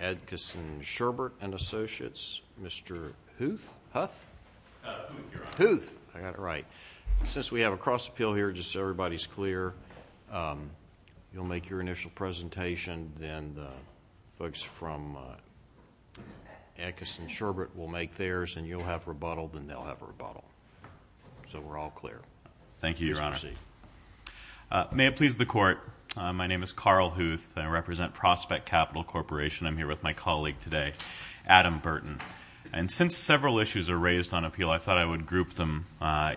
Adkisson Sherbert & Associates, Mr. Huth? Huth, Your Honor. Huth. I got it right. Since we have a cross-appeal here, just so everybody's clear, you'll make your initial presentation, then the folks from Adkisson Sherbert will make theirs, and you'll have rebuttal, then they'll have rebuttal. So we're all clear. Thank you, Your Honor. Please proceed. May it please the Court, my name is Carl Huth. I represent Prospect Capital Corporation. I'm here with my colleague today, Adam Burton. And since several issues are raised on appeal, I thought I would group them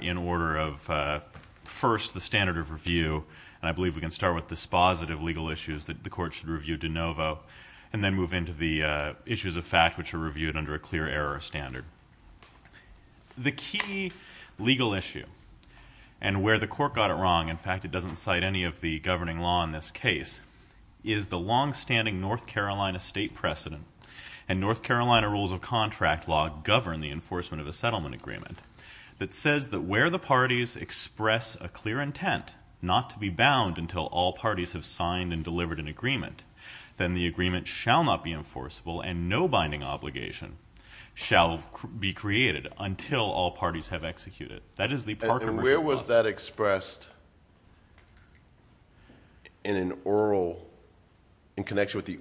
in order of first the standard of review, and I believe we can start with dispositive legal issues that the Court should review de novo, and then move into the issues of fact, which are reviewed under a clear error standard. The key legal issue, and where the Court got it wrong, in fact, it doesn't cite any of the governing law in this case, is the longstanding North Carolina state precedent, and North Carolina rules of contract law govern the enforcement of a settlement agreement, that says that where the parties express a clear intent not to be bound until all parties have signed and delivered an agreement, then the agreement shall not be enforceable, and no binding obligation shall be created until all parties have executed. And where was that expressed in connection with the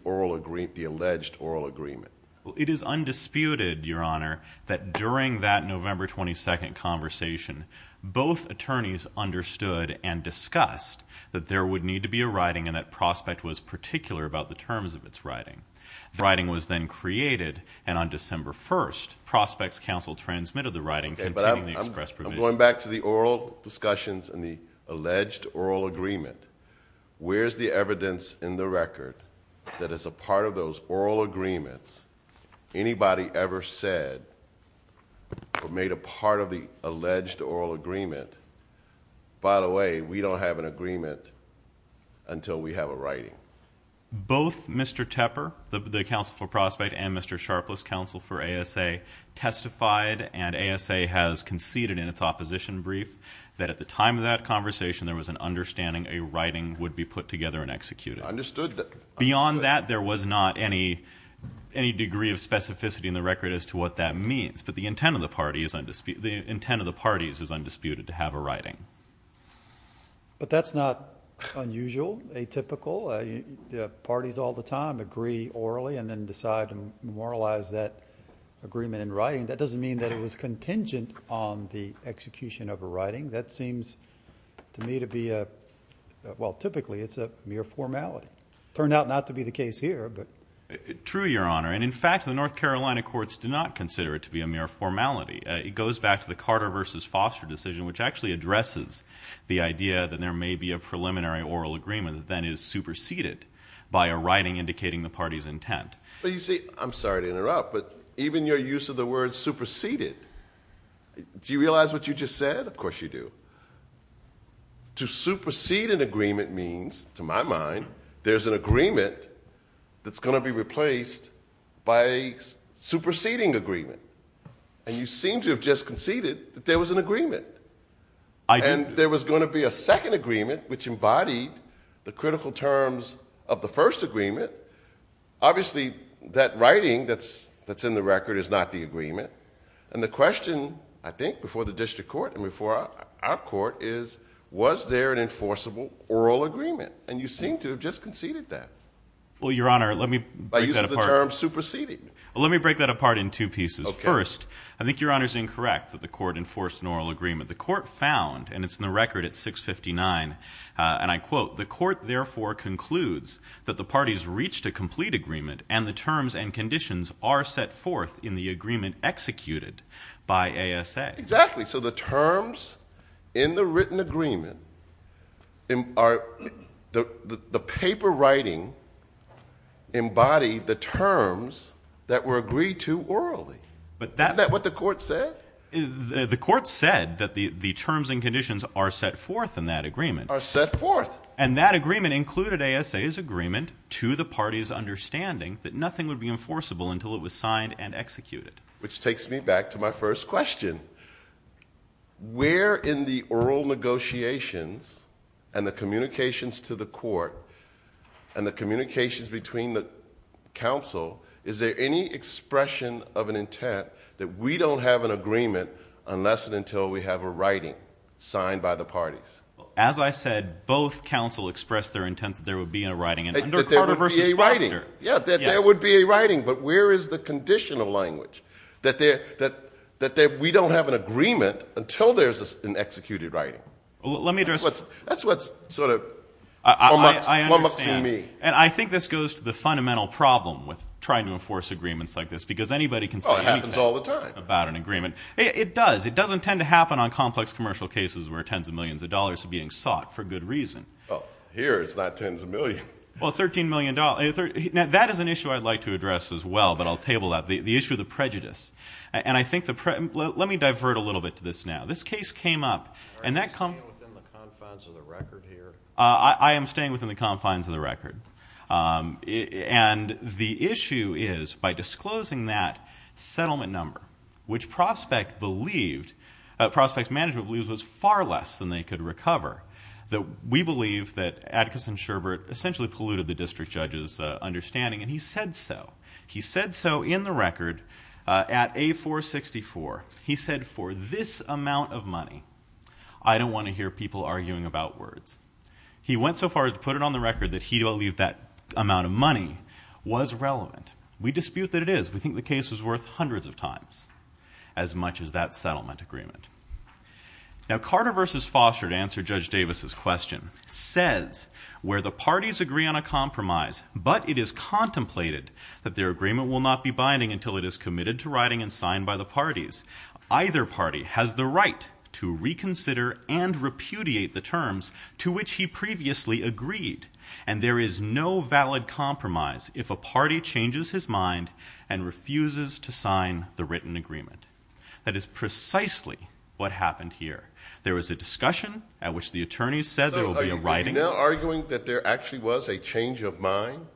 alleged oral agreement? It is undisputed, Your Honor, that during that November 22nd conversation, both attorneys understood and discussed that there would need to be a writing, and that Prospect was particular about the terms of its writing. The writing was then created, and on December 1st, Okay, but I'm going back to the oral discussions and the alleged oral agreement. Where's the evidence in the record that as a part of those oral agreements, anybody ever said or made a part of the alleged oral agreement, by the way, we don't have an agreement until we have a writing? Both Mr. Tepper, the counsel for Prospect, and Mr. Sharpless, counsel for ASA, testified, and ASA has conceded in its opposition brief that at the time of that conversation, there was an understanding a writing would be put together and executed. I understood that. Beyond that, there was not any degree of specificity in the record as to what that means, but the intent of the parties is undisputed to have a writing. But that's not unusual, atypical. Parties all the time agree orally and then decide to moralize that agreement in writing. That doesn't mean that it was contingent on the execution of a writing. That seems to me to be a, well, typically it's a mere formality. Turned out not to be the case here, but. True, Your Honor, and in fact, the North Carolina courts do not consider it to be a mere formality. It goes back to the Carter v. Foster decision, which actually addresses the idea that there may be a preliminary oral agreement that then is superseded by a writing indicating the party's intent. But you see, I'm sorry to interrupt, but even your use of the word superseded, do you realize what you just said? Of course you do. To supersede an agreement means, to my mind, there's an agreement that's going to be replaced by a superseding agreement. And you seem to have just conceded that there was an agreement. And there was going to be a second agreement, which embodied the critical terms of the first agreement. Obviously, that writing that's in the record is not the agreement. And the question, I think, before the district court and before our court is, was there an enforceable oral agreement? And you seem to have just conceded that. Well, Your Honor, let me break that apart. By using the term superseding. Let me break that apart in two pieces. First, I think Your Honor's incorrect that the court enforced an oral agreement. The court found, and it's in the record at 659, and I quote, the court therefore concludes that the parties reached a complete agreement and the terms and conditions are set forth in the agreement executed by ASA. Exactly. So the terms in the written agreement are the paper writing embodied the terms that were agreed to orally. Isn't that what the court said? The court said that the terms and conditions are set forth in that agreement. Are set forth. And that agreement included ASA's agreement to the party's understanding that nothing would be enforceable until it was signed and executed. Which takes me back to my first question. Where in the oral negotiations and the communications to the court and the communications between the counsel, is there any expression of an intent that we don't have an agreement unless and until we have a writing signed by the parties? As I said, both counsel expressed their intent that there would be a writing. That there would be a writing. Yeah, that there would be a writing, but where is the conditional language? That we don't have an agreement until there's an executed writing. That's what sort of plummets in me. I think this goes to the fundamental problem with trying to enforce agreements like this, because anybody can say anything about an agreement. It does. It doesn't tend to happen on complex commercial cases where tens of millions of dollars are being sought for good reason. Here it's not tens of millions. Well, $13 million. That is an issue I'd like to address as well, but I'll table that. The issue of the prejudice. Let me divert a little bit to this now. This case came up. Are you staying within the confines of the record here? I am staying within the confines of the record. And the issue is, by disclosing that settlement number, which Prospect Management believes was far less than they could recover, that we believe that Atticus and Sherbert essentially polluted the district judge's understanding, and he said so. He said so in the record at A464. He said, for this amount of money, I don't want to hear people arguing about words. He went so far as to put it on the record that he believed that amount of money was relevant. We dispute that it is. We think the case was worth hundreds of times as much as that settlement agreement. Now, Carter v. Foster, to answer Judge Davis's question, says where the parties agree on a compromise, but it is contemplated that their agreement will not be binding until it is committed to writing and signed by the parties. Either party has the right to reconsider and repudiate the terms to which he previously agreed, and there is no valid compromise if a party changes his mind and refuses to sign the written agreement. That is precisely what happened here. There was a discussion at which the attorneys said there will be a writing agreement. So are you now arguing that there actually was a change of mind?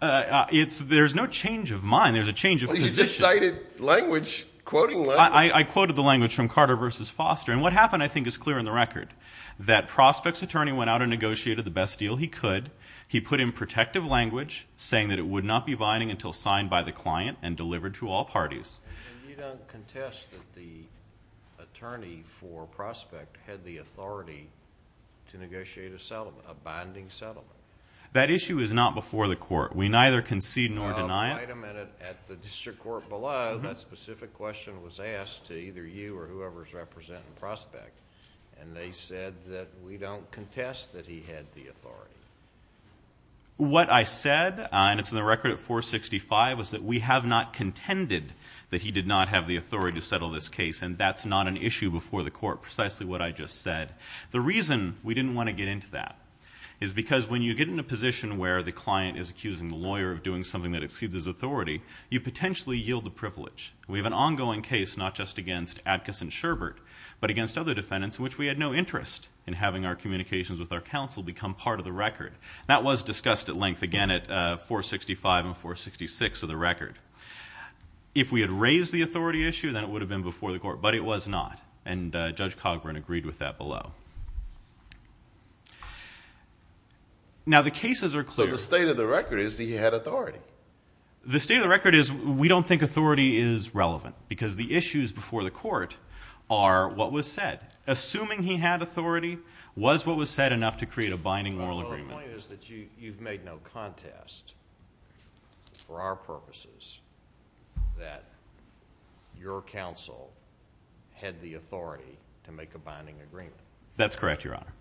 There's no change of mind. There's a change of position. He just cited language, quoting language. I quoted the language from Carter v. Foster, and what happened I think is clear on the record, that Prospect's attorney went out and negotiated the best deal he could. He put in protective language saying that it would not be binding until signed by the client and delivered to all parties. And you don't contest that the attorney for Prospect had the authority to negotiate a binding settlement? That issue is not before the court. We neither concede nor deny it. Wait a minute. At the district court below, that specific question was asked to either you or whoever is representing Prospect, and they said that we don't contest that he had the authority. What I said, and it's in the record at 465, was that we have not contended that he did not have the authority to settle this case, and that's not an issue before the court, precisely what I just said. The reason we didn't want to get into that is because when you get in a position where the client is accusing the lawyer of doing something that exceeds his authority, you potentially yield the privilege. We have an ongoing case not just against Adkis and Sherbert, but against other defendants in which we had no interest in having our communications with our counsel become part of the record. That was discussed at length, again, at 465 and 466 of the record. If we had raised the authority issue, then it would have been before the court, but it was not, and Judge Cogburn agreed with that below. Now, the cases are clear. But the state of the record is that he had authority. The state of the record is we don't think authority is relevant because the issues before the court are what was said. Assuming he had authority was what was said enough to create a binding moral agreement. My only point is that you've made no contest for our purposes that your counsel had the authority to make a binding agreement. That's correct, Your Honor.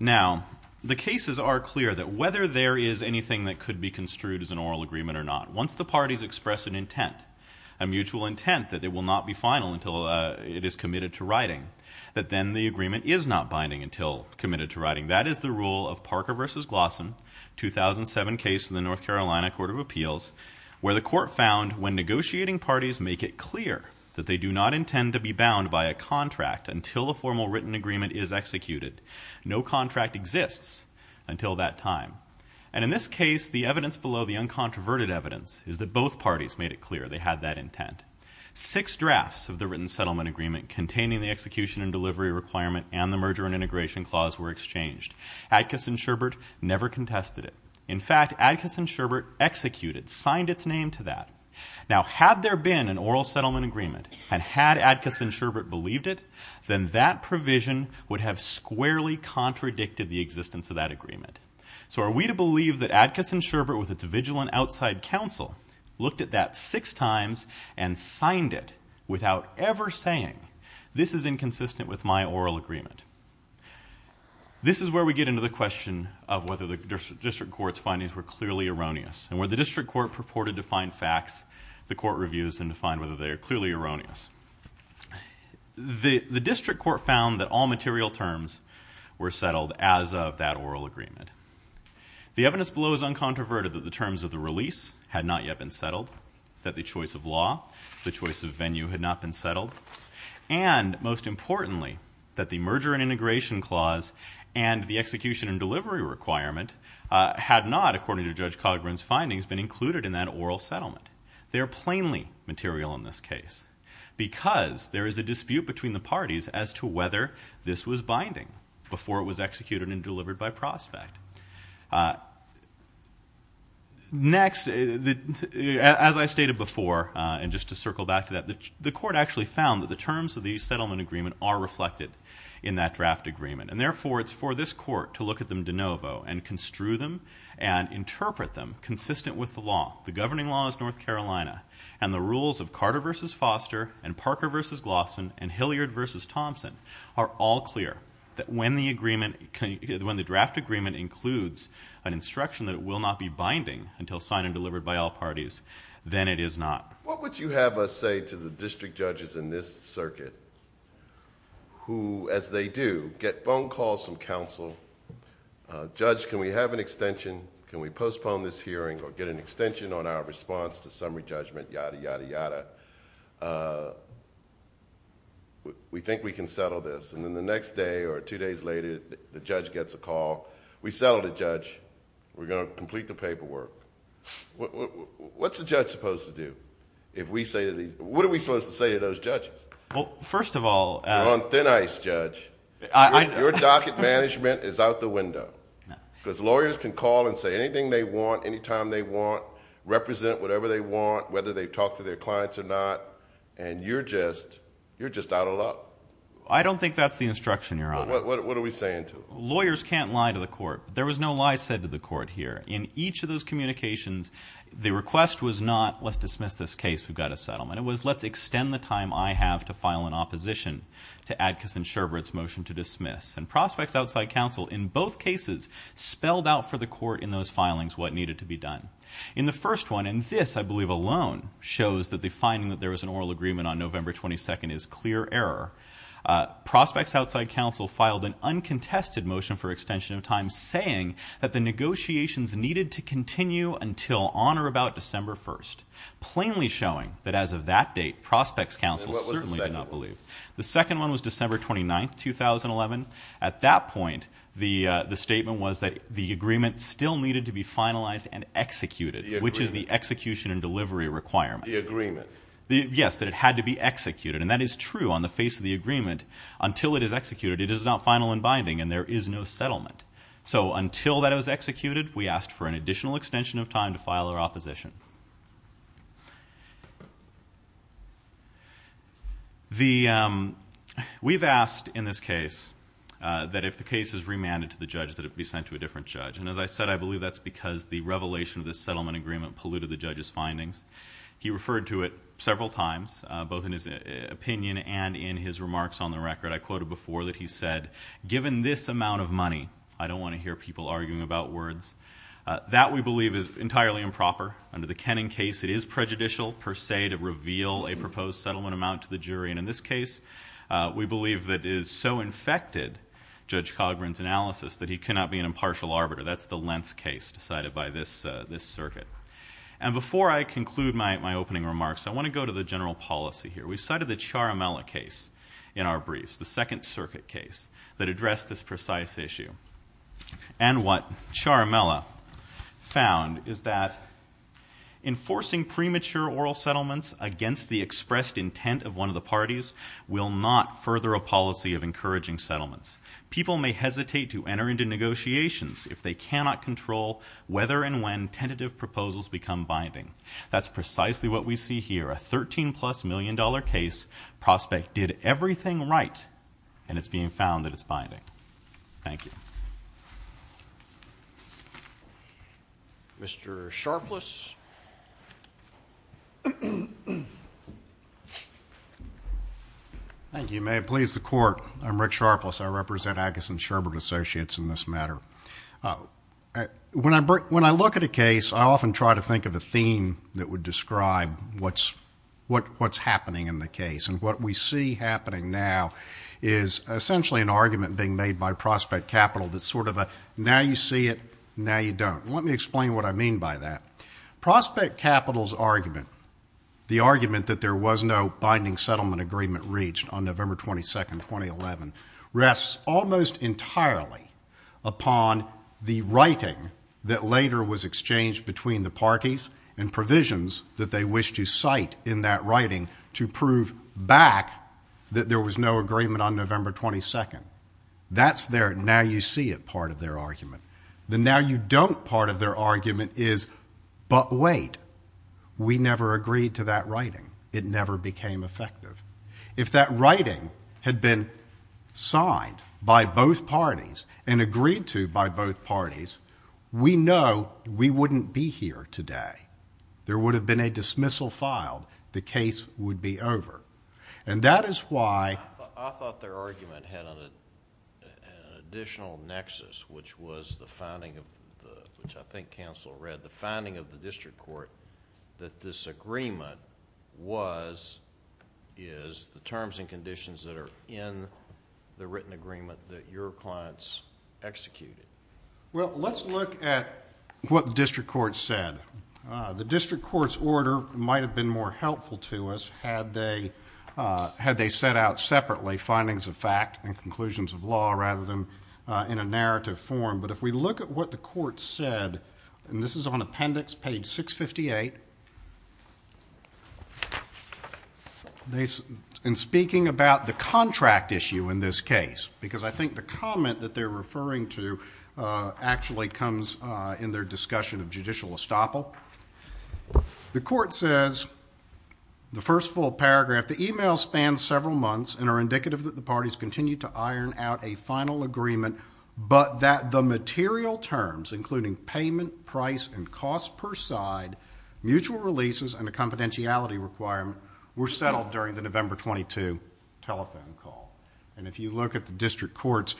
Now, the cases are clear that whether there is anything that could be construed as an oral agreement or not, once the parties express an intent, a mutual intent that it will not be final until it is committed to writing, that is the rule of Parker v. Glossen, 2007 case in the North Carolina Court of Appeals, where the court found when negotiating parties make it clear that they do not intend to be bound by a contract until a formal written agreement is executed. No contract exists until that time. And in this case, the evidence below, the uncontroverted evidence, is that both parties made it clear they had that intent. Six drafts of the written settlement agreement containing the execution and delivery requirement and the merger and integration clause were exchanged. Adkis and Sherbert never contested it. In fact, Adkis and Sherbert executed, signed its name to that. Now, had there been an oral settlement agreement, and had Adkis and Sherbert believed it, then that provision would have squarely contradicted the existence of that agreement. So are we to believe that Adkis and Sherbert, with its vigilant outside counsel, looked at that six times and signed it without ever saying, this is inconsistent with my oral agreement? This is where we get into the question of whether the district court's findings were clearly erroneous and where the district court purported to find facts, the court reviews, and to find whether they are clearly erroneous. The district court found that all material terms were settled as of that oral agreement. The evidence below is uncontroverted that the terms of the release had not yet been settled, that the choice of law, the choice of venue had not been settled, and, most importantly, that the merger and integration clause and the execution and delivery requirement had not, according to Judge Cogburn's findings, been included in that oral settlement. They are plainly material in this case because there is a dispute between the parties as to whether this was binding before it was executed and delivered by prospect. Next, as I stated before, and just to circle back to that, the court actually found that the terms of the settlement agreement are reflected in that draft agreement. And, therefore, it's for this court to look at them de novo and construe them and interpret them consistent with the law, the governing laws of North Carolina, and the rules of Carter v. Foster and Parker v. Glawson and Hilliard v. Thompson are all clear that when the draft agreement includes an instruction that it will not be binding until signed and delivered by all parties, then it is not. What would you have us say to the district judges in this circuit who, as they do, get phone calls from counsel, Judge, can we have an extension? Can we postpone this hearing or get an extension on our response to summary judgment? Yada, yada, yada. We think we can settle this. And then the next day or two days later, the judge gets a call. We settled it, Judge. We're going to complete the paperwork. What's a judge supposed to do? What are we supposed to say to those judges? Well, first of all... You're on thin ice, Judge. Your docket management is out the window. Because lawyers can call and say anything they want, anytime they want, represent whatever they want, whether they talk to their clients or not, and you're just out of luck. I don't think that's the instruction, Your Honor. Well, what are we saying to them? Lawyers can't lie to the court. There was no lie said to the court here. In each of those communications, the request was not let's dismiss this case, we've got a settlement. It was let's extend the time I have to file an opposition to Adkis and Sherbert's motion to dismiss. And Prospects Outside Counsel, in both cases, spelled out for the court in those filings what needed to be done. In the first one, and this, I believe, alone, shows that the finding that there was an oral agreement on November 22nd is clear error. Prospects Outside Counsel filed an uncontested motion for extension of time, saying that the negotiations needed to continue until on or about December 1st, plainly showing that as of that date, Prospects Counsel certainly did not believe. The second one was December 29th, 2011. At that point, the statement was that the agreement still needed to be finalized and executed, which is the execution and delivery requirement. The agreement. Yes, that it had to be executed. And that is true on the face of the agreement. Until it is executed, it is not final and binding, and there is no settlement. So until that it was executed, we asked for an additional extension of time to file our opposition. We've asked in this case that if the case is remanded to the judge, that it be sent to a different judge. And as I said, I believe that's because the revelation of this settlement agreement polluted the judge's findings. He referred to it several times, both in his opinion and in his remarks on the record. I quoted before that he said, given this amount of money, I don't want to hear people arguing about words. That, we believe, is entirely improper. Under the Kenning case, it is prejudicial per se to reveal a proposed settlement amount to the jury. And in this case, we believe that it has so infected Judge Cogburn's analysis that he cannot be an impartial arbiter. That's the Lentz case decided by this circuit. And before I conclude my opening remarks, I want to go to the general policy here. We cited the Charamella case in our briefs, the Second Circuit case, that addressed this precise issue. And what Charamella found is that enforcing premature oral settlements against the expressed intent of one of the parties will not further a policy of encouraging settlements. People may hesitate to enter into negotiations if they cannot control whether and when tentative proposals become binding. That's precisely what we see here. A $13-plus million case prospect did everything right, and it's being found that it's binding. Thank you. Mr. Sharpless. Thank you. May it please the Court, I'm Rick Sharpless. I represent Agus and Sherbert Associates in this matter. When I look at a case, I often try to think of a theme that would describe what's happening in the case. And what we see happening now is essentially an argument being made by Prospect Capital that's sort of a, now you see it, now you don't. Let me explain what I mean by that. Prospect Capital's argument, the argument that there was no binding settlement agreement reached on November 22, 2011, rests almost entirely upon the writing that later was exchanged between the parties and provisions that they wished to cite in that writing to prove back that there was no agreement on November 22. That's their now you see it part of their argument. The now you don't part of their argument is, but wait, we never agreed to that writing. It never became effective. If that writing had been signed by both parties and agreed to by both parties, we know we wouldn't be here today. There would have been a dismissal filed. The case would be over. And that is why... I thought their argument had an additional nexus, which was the finding of the... is the terms and conditions that are in the written agreement that your clients executed. Well, let's look at what the district court said. The district court's order might have been more helpful to us had they set out separately findings of fact and conclusions of law rather than in a narrative form. But if we look at what the court said, and this is on appendix page 658, and speaking about the contract issue in this case, because I think the comment that they're referring to actually comes in their discussion of judicial estoppel. The court says, the first full paragraph, The email spans several months and are indicative that the parties continue to iron out a final agreement, but that the material terms, including payment, price, and cost per side, mutual releases, and a confidentiality requirement were settled during the November 22 telephone call. And if you look at the district court's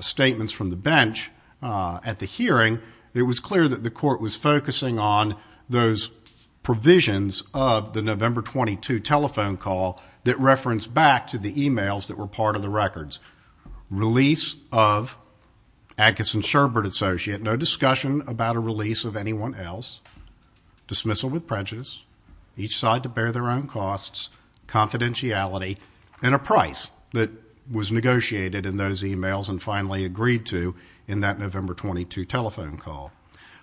statements from the bench at the hearing, it was clear that the court was focusing on those provisions of the November 22 telephone call that referenced back to the emails that were part of the records. Release of Agus and Sherbert, associate, no discussion about a release of anyone else, dismissal with prejudice, each side to bear their own costs, confidentiality, and a price that was negotiated in those emails and finally agreed to in that November 22 telephone call.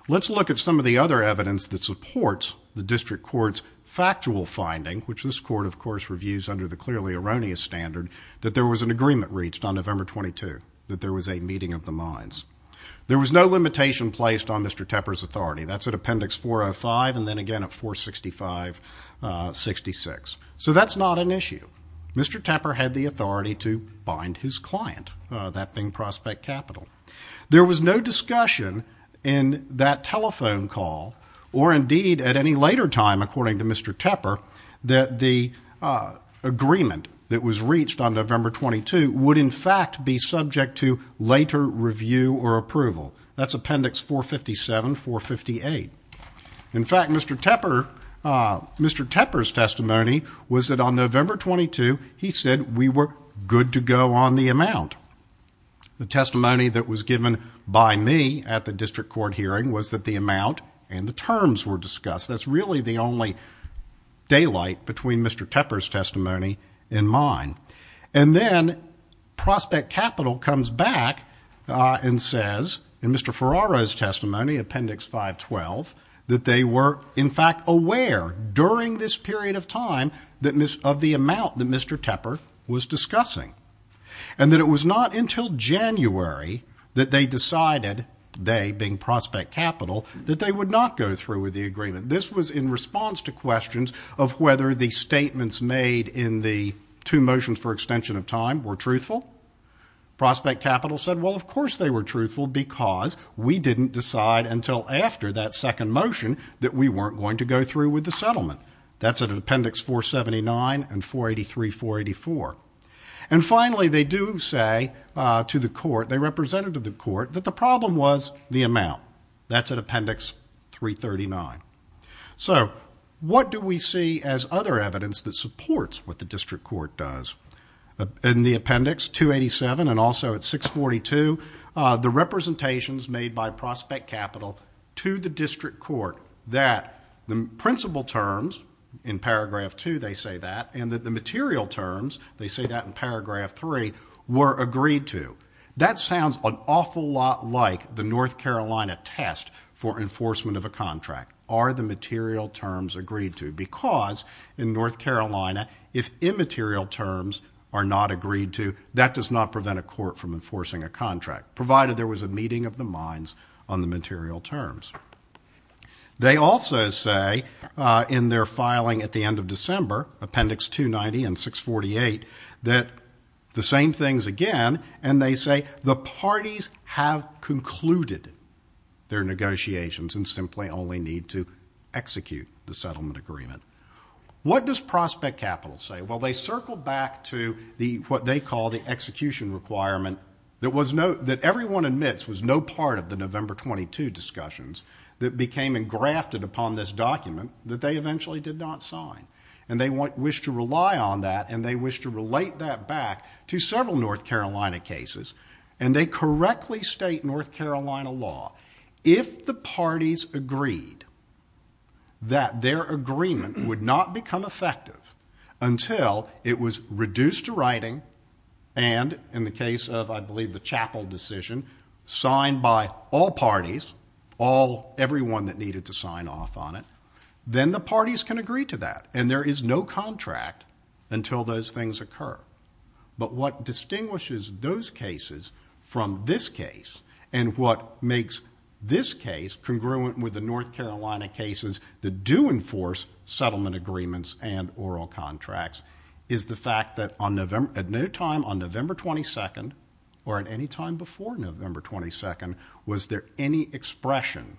Let's look at some of the other evidence that supports the district court's factual finding, which this court, of course, reviews under the clearly erroneous standard, that there was an agreement reached on November 22, that there was a meeting of the minds. There was no limitation placed on Mr. Tepper's authority. That's at appendix 405 and then again at 465-66. So that's not an issue. Mr. Tepper had the authority to bind his client, that being Prospect Capital. There was no discussion in that telephone call or indeed at any later time, according to Mr. Tepper, that the agreement that was reached on November 22 would in fact be subject to later review or approval. That's appendix 457-458. In fact, Mr. Tepper's testimony was that on November 22, he said we were good to go on the amount. The testimony that was given by me at the district court hearing was that the amount and the terms were discussed. That's really the only daylight between Mr. Tepper's testimony and mine. And then Prospect Capital comes back and says in Mr. Ferraro's testimony, appendix 512, that they were in fact aware during this period of time of the amount that Mr. Tepper was discussing. And that it was not until January that they decided, they being Prospect Capital, that they would not go through with the agreement. This was in response to questions of whether the statements made in the two motions for extension of time were truthful. Prospect Capital said, well, of course they were truthful, because we didn't decide until after that second motion that we weren't going to go through with the settlement. That's at appendix 479 and 483-484. And finally, they do say to the court, they represented to the court, that the problem was the amount. That's at appendix 339. So what do we see as other evidence that supports what the district court does? In the appendix 287 and also at 642, the representations made by Prospect Capital to the district court, that the principal terms, in paragraph two they say that, and that the material terms, they say that in paragraph three, were agreed to. That sounds an awful lot like the North Carolina test for enforcement of a contract. Are the material terms agreed to? Because in North Carolina, if immaterial terms are not agreed to, that does not prevent a court from enforcing a contract. Provided there was a meeting of the minds on the material terms. They also say in their filing at the end of December, appendix 290 and 648, that the same things again, and they say the parties have concluded their negotiations and simply only need to execute the settlement agreement. What does Prospect Capital say? Well, they circle back to what they call the execution requirement that everyone admits was no part of the November 22 discussions that became engrafted upon this document that they eventually did not sign. And they wish to rely on that, and they wish to relate that back to several North Carolina cases, and they correctly state North Carolina law. If the parties agreed that their agreement would not become effective until it was reduced to writing, and in the case of, I believe, the chapel decision, signed by all parties, everyone that needed to sign off on it, then the parties can agree to that, and there is no contract until those things occur. But what distinguishes those cases from this case, and what makes this case congruent with the North Carolina cases that do enforce settlement agreements and oral contracts, is the fact that at no time on November 22, or at any time before November 22, was there any expression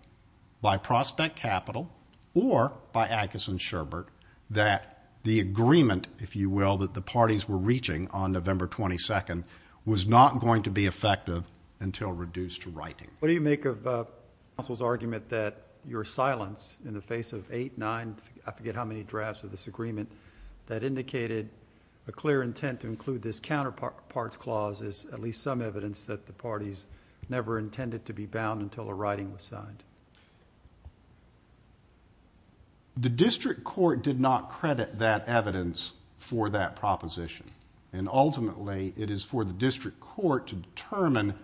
by Prospect Capital or by Agus and Sherbert that the agreement, if you will, that the parties were reaching on November 22, was not going to be effective until reduced to writing. What do you make of counsel's argument that your silence in the face of eight, nine, I forget how many drafts of this agreement, that indicated a clear intent to include this counterparts clause as at least some evidence that the parties never intended to be bound until a writing was signed? The district court did not credit that evidence for that proposition, and ultimately it is for the district court to determine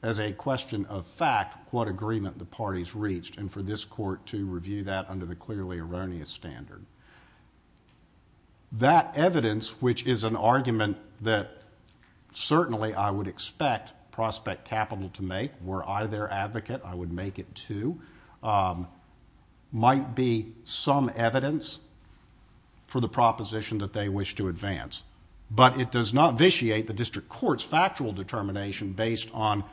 as a question of fact what agreement the parties reached, and for this court to review that under the clearly erroneous standard. That evidence, which is an argument that certainly I would expect Prospect Capital to make, were I their advocate, I would make it too, might be some evidence for the proposition that they wish to advance, but it does not vitiate the district court's factual determination based on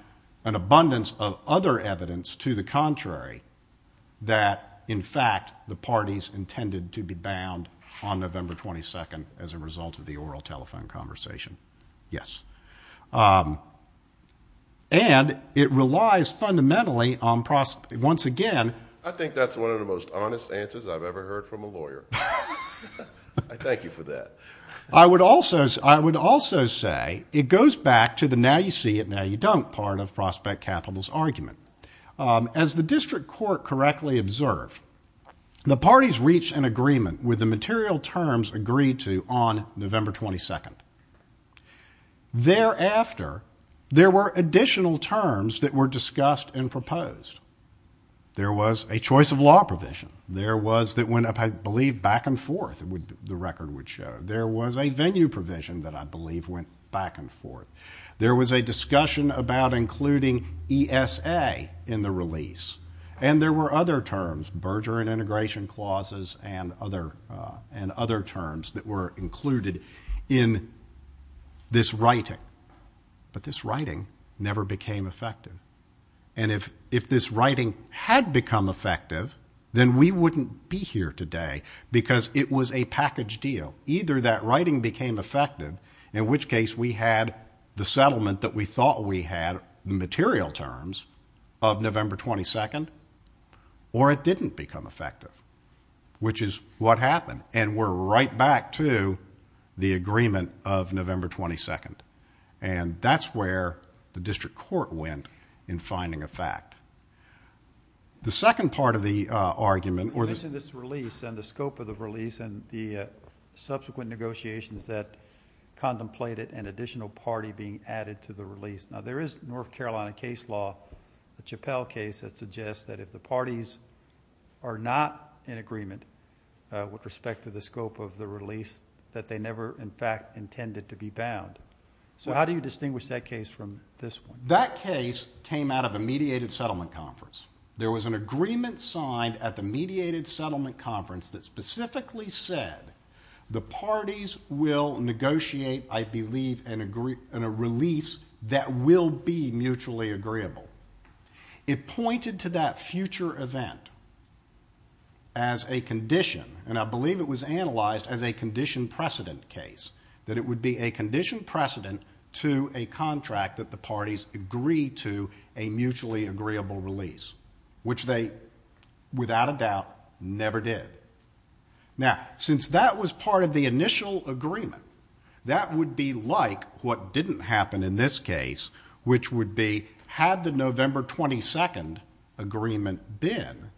an abundance of other evidence to the contrary that in fact the parties intended to be bound on November 22nd as a result of the oral telephone conversation. Yes. And it relies fundamentally on Prospect, once again. I think that's one of the most honest answers I've ever heard from a lawyer. I thank you for that. I would also say it goes back to the now you see it, now you don't part of Prospect Capital's argument. As the district court correctly observed, the parties reached an agreement with the material terms agreed to on November 22nd. Thereafter, there were additional terms that were discussed and proposed. There was a choice of law provision. There was that went, I believe, back and forth, the record would show. There was a venue provision that I believe went back and forth. There was a discussion about including ESA in the release. And there were other terms, Bergeron integration clauses and other terms, that were included in this writing. But this writing never became effective. And if this writing had become effective, then we wouldn't be here today because it was a package deal. Either that writing became effective, in which case, we had the settlement that we thought we had, material terms, of November 22nd, or it didn't become effective, which is what happened. And we're right back to the agreement of November 22nd. And that's where the district court went in finding a fact. The second part of the argument. You mentioned this release and the scope of the release and the subsequent negotiations that contemplated an additional party being added to the release. Now, there is North Carolina case law, the Chappelle case, that suggests that if the parties are not in agreement with respect to the scope of the release, that they never in fact intended to be bound. So how do you distinguish that case from this one? That case came out of a mediated settlement conference. There was an agreement signed at the mediated settlement conference that specifically said the parties will negotiate, I believe, a release that will be mutually agreeable. It pointed to that future event as a condition, and I believe it was analyzed as a condition precedent case, that it would be a condition precedent to a contract that the parties agree to a mutually agreeable release, which they, without a doubt, never did. Now, since that was part of the initial agreement, that would be like what didn't happen in this case, which would be had the November 22nd agreement been,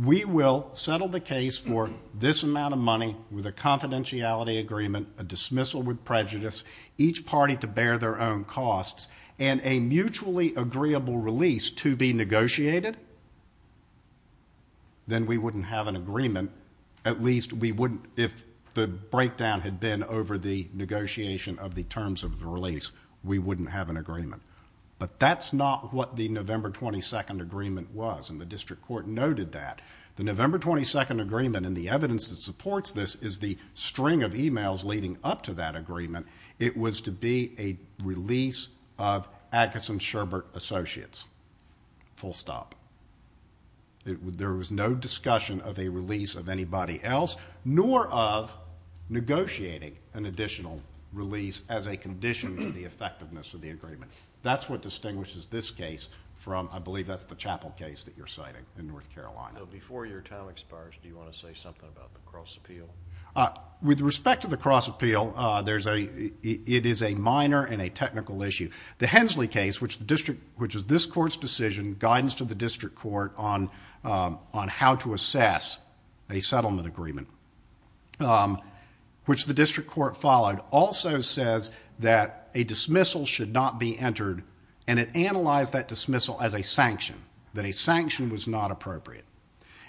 we will settle the case for this amount of money with a confidentiality agreement, a dismissal with prejudice, each party to bear their own costs, and a mutually agreeable release to be negotiated, then we wouldn't have an agreement. At least we wouldn't, if the breakdown had been over the negotiation of the terms of the release, we wouldn't have an agreement. But that's not what the November 22nd agreement was, and the district court noted that. The November 22nd agreement, and the evidence that supports this, is the string of emails leading up to that agreement, it was to be a release of Atkinson-Sherbert Associates. Full stop. There was no discussion of a release of anybody else, nor of negotiating an additional release as a condition to the effectiveness of the agreement. That's what distinguishes this case from, I believe, that's the Chapel case that you're citing in North Carolina. Before your time expires, do you want to say something about the cross appeal? With respect to the cross appeal, it is a minor and a technical issue. The Hensley case, which was this court's decision, guidance to the district court on how to assess a settlement agreement, which the district court followed, also says that a dismissal should not be entered, and it analyzed that dismissal as a sanction, that a sanction was not appropriate.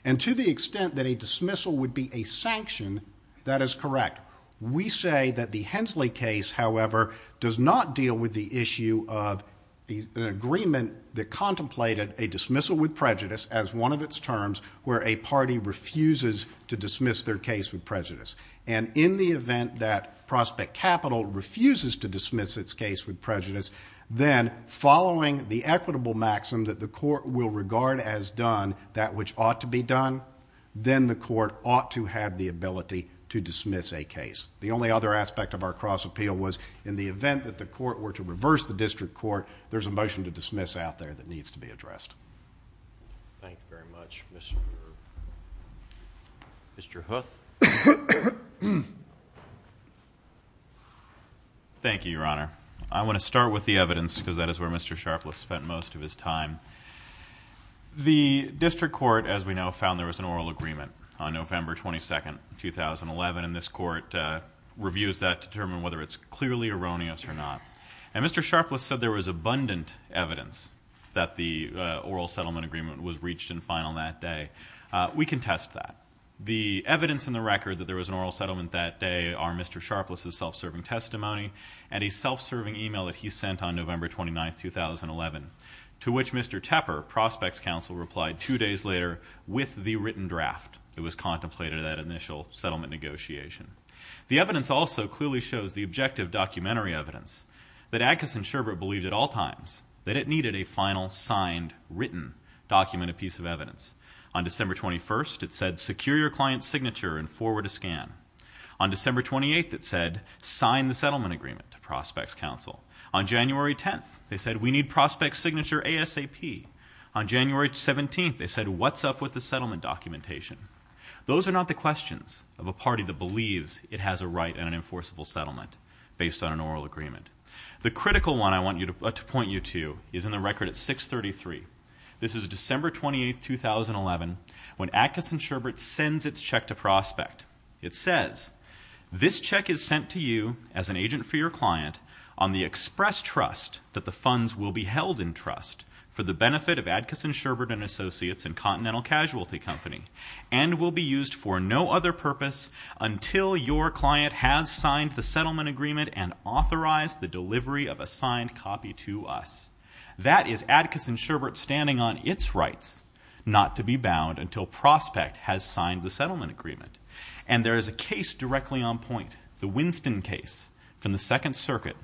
And to the extent that a dismissal would be a sanction, that is correct. We say that the Hensley case, however, does not deal with the issue of an agreement that contemplated a dismissal with prejudice as one of its terms where a party refuses to dismiss their case with prejudice. And in the event that Prospect Capital refuses to dismiss its case with prejudice, then following the equitable maxim that the court will regard as done, that which ought to be done, then the court ought to have the ability to dismiss a case. The only other aspect of our cross appeal was in the event that the court were to reverse the district court, there's a motion to dismiss out there that needs to be addressed. Thank you very much, Mr. Brewer. Mr. Huth. Thank you, Your Honor. I want to start with the evidence because that is where Mr. Sharpless spent most of his time. The district court, as we know, found there was an oral agreement on November 22, 2011, and this court reviews that to determine whether it's clearly erroneous or not. And Mr. Sharpless said there was abundant evidence that the oral settlement agreement was reached and final that day. We can test that. The evidence in the record that there was an oral settlement that day are Mr. Sharpless's self-serving testimony and a self-serving email that he sent on November 29, 2011, to which Mr. Tepper, Prospects Counsel, replied two days later with the written draft that was contemplated at initial settlement negotiation. The evidence also clearly shows the objective documentary evidence that Agassiz and Sherbert believed at all times that it needed a final signed, written, documented piece of evidence. On December 21, it said, secure your client's signature and forward a scan. On December 28, it said, sign the settlement agreement to Prospects Counsel. On January 10, they said, we need Prospects Signature ASAP. On January 17, they said, what's up with the settlement documentation? Those are not the questions of a party that believes it has a right and an enforceable settlement based on an oral agreement. The critical one I want to point you to is in the record at 633. This is December 28, 2011, when Agassiz and Sherbert sends its check to Prospect. It says, this check is sent to you as an agent for your client on the express trust that the funds will be held in trust for the benefit of Agassiz and Sherbert & Associates and Continental Casualty Company and will be used for no other purpose until your client has signed the settlement agreement and authorized the delivery of a signed copy to us. That is Agassiz and Sherbert standing on its rights not to be bound until Prospect has signed the settlement agreement. And there is a case directly on point, the Winston case from the Second Circuit,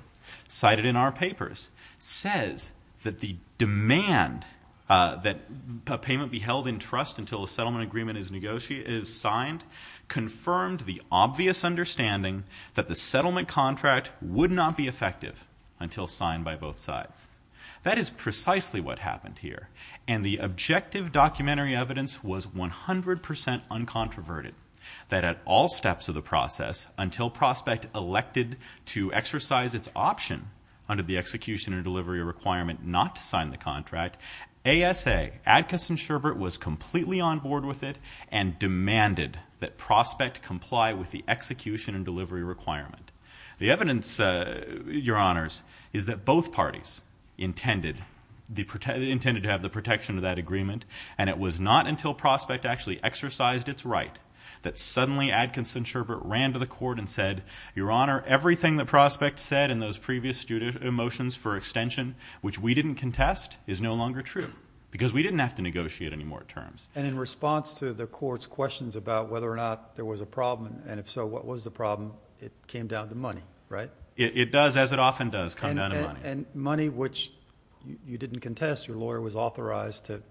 cited in our papers, says that the demand that a payment be held in trust until a settlement agreement is signed confirmed the obvious understanding that the settlement contract would not be effective until signed by both sides. That is precisely what happened here, and the objective documentary evidence was 100% uncontroverted, that at all steps of the process, until Prospect elected to exercise its option under the execution and delivery requirement not to sign the contract, ASA, Agassiz and Sherbert, was completely on board with it and demanded that Prospect comply with the execution and delivery requirement. The evidence, Your Honors, is that both parties intended to have the protection of that agreement and it was not until Prospect actually exercised its right that suddenly Adkins and Sherbert ran to the court and said, Your Honor, everything that Prospect said in those previous motions for extension, which we didn't contest, is no longer true because we didn't have to negotiate any more terms. And in response to the court's questions about whether or not there was a problem, and if so, what was the problem, it came down to money, right? It does, as it often does, come down to money. And money which you didn't contest, your lawyer was authorized to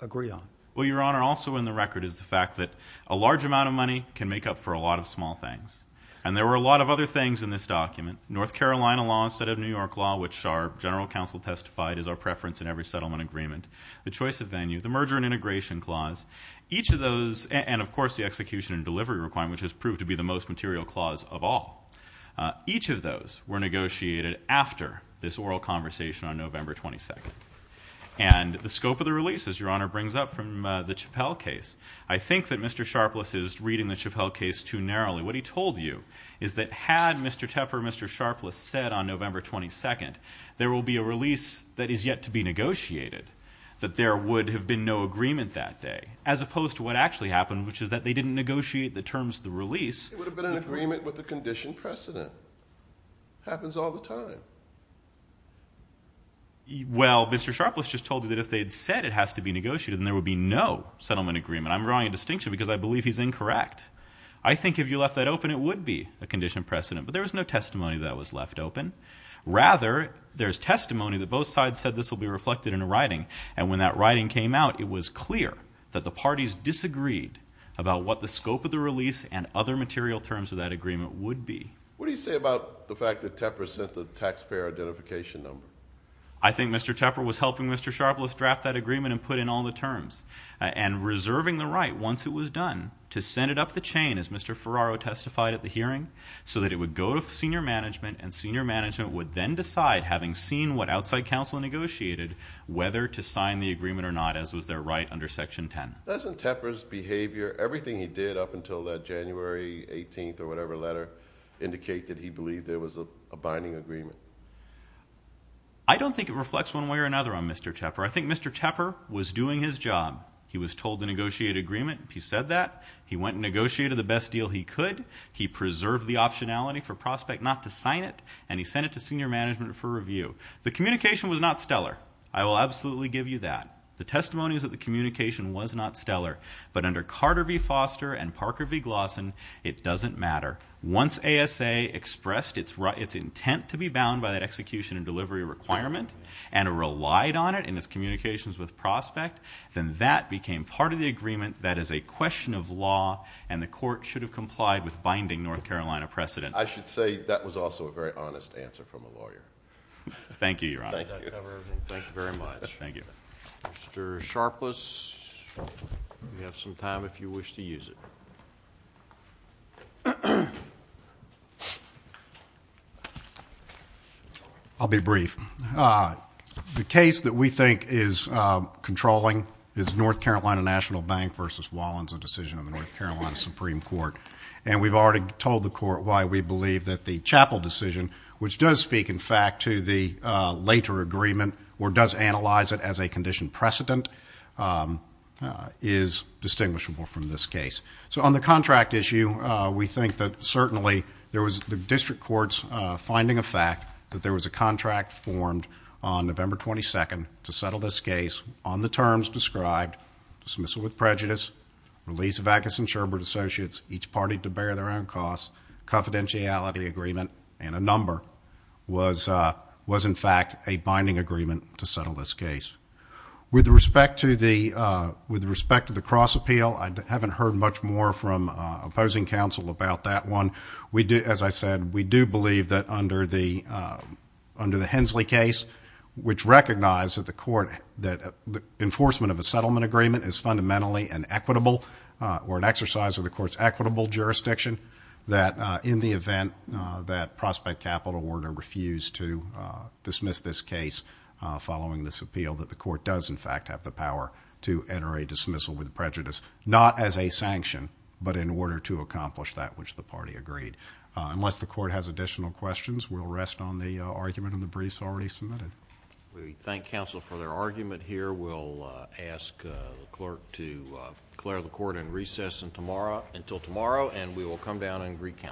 agree on. Well, Your Honor, also in the record is the fact that a large amount of money can make up for a lot of small things. And there were a lot of other things in this document. North Carolina law instead of New York law, which our general counsel testified is our preference in every settlement agreement. The choice of venue, the merger and integration clause. Each of those, and of course the execution and delivery requirement, which has proved to be the most material clause of all. Each of those were negotiated after this oral conversation on November 22nd. And the scope of the release, as Your Honor brings up, from the Chappell case, I think that Mr. Sharpless is reading the Chappell case too narrowly. What he told you is that had Mr. Tepper, Mr. Sharpless said on November 22nd, there will be a release that is yet to be negotiated, that there would have been no agreement that day, as opposed to what actually happened, which is that they didn't negotiate the terms of the release. It would have been an agreement with the condition precedent. Happens all the time. Well, Mr. Sharpless just told you that if they had said it has to be negotiated, then there would be no settlement agreement. I'm drawing a distinction because I believe he's incorrect. I think if you left that open, it would be a condition precedent. But there was no testimony that was left open. Rather, there's testimony that both sides said this will be reflected in a writing. And when that writing came out, it was clear that the parties disagreed about what the scope of the release and other material terms of that agreement would be. What do you say about the fact that Tepper sent the taxpayer identification number? I think Mr. Tepper was helping Mr. Sharpless draft that agreement and put in all the terms, and reserving the right once it was done to send it up the chain, as Mr. Ferraro testified at the hearing, so that it would go to senior management, and senior management would then decide, having seen what outside counsel negotiated, whether to sign the agreement or not, as was their right under Section 10. Doesn't Tepper's behavior, everything he did up until that January 18th or whatever letter, indicate that he believed there was a binding agreement? I don't think it reflects one way or another on Mr. Tepper. I think Mr. Tepper was doing his job. He was told to negotiate an agreement. He said that. He went and negotiated the best deal he could. He preserved the optionality for Prospect not to sign it, and he sent it to senior management for review. The communication was not stellar. I will absolutely give you that. The testimony is that the communication was not stellar. But under Carter v. Foster and Parker v. Glossen, it doesn't matter. Once ASA expressed its intent to be bound by that execution and delivery requirement and relied on it in its communications with Prospect, then that became part of the agreement that is a question of law, and the court should have complied with binding North Carolina precedent. I should say that was also a very honest answer from a lawyer. Thank you, Your Honor. Thank you very much. Mr. Sharpless, you have some time if you wish to use it. Thank you. I'll be brief. The case that we think is controlling is North Carolina National Bank v. Wallins, a decision of the North Carolina Supreme Court. And we've already told the court why we believe that the Chappell decision, which does speak, in fact, to the later agreement or does analyze it as a condition precedent, is distinguishable from this case. So on the contract issue, we think that certainly there was the district court's finding of fact that there was a contract formed on November 22nd to settle this case on the terms described. Dismissal with prejudice, release of Agus and Sherbert associates, each party to bear their own costs, confidentiality agreement, and a number was, in fact, a binding agreement to settle this case. With respect to the cross appeal, I haven't heard much more from opposing counsel about that one. As I said, we do believe that under the Hensley case, which recognized that the court, that enforcement of a settlement agreement is fundamentally an equitable or an exercise of the court's equitable jurisdiction, that in the event that prospect capital were to refuse to dismiss this case following this appeal, that the court does, in fact, have the power to enter a dismissal with prejudice, not as a sanction, but in order to accomplish that which the party agreed. Unless the court has additional questions, we'll rest on the argument in the briefs already submitted. We thank counsel for their argument here. We'll ask the clerk to declare the court in recess until tomorrow, and we will come down and recount.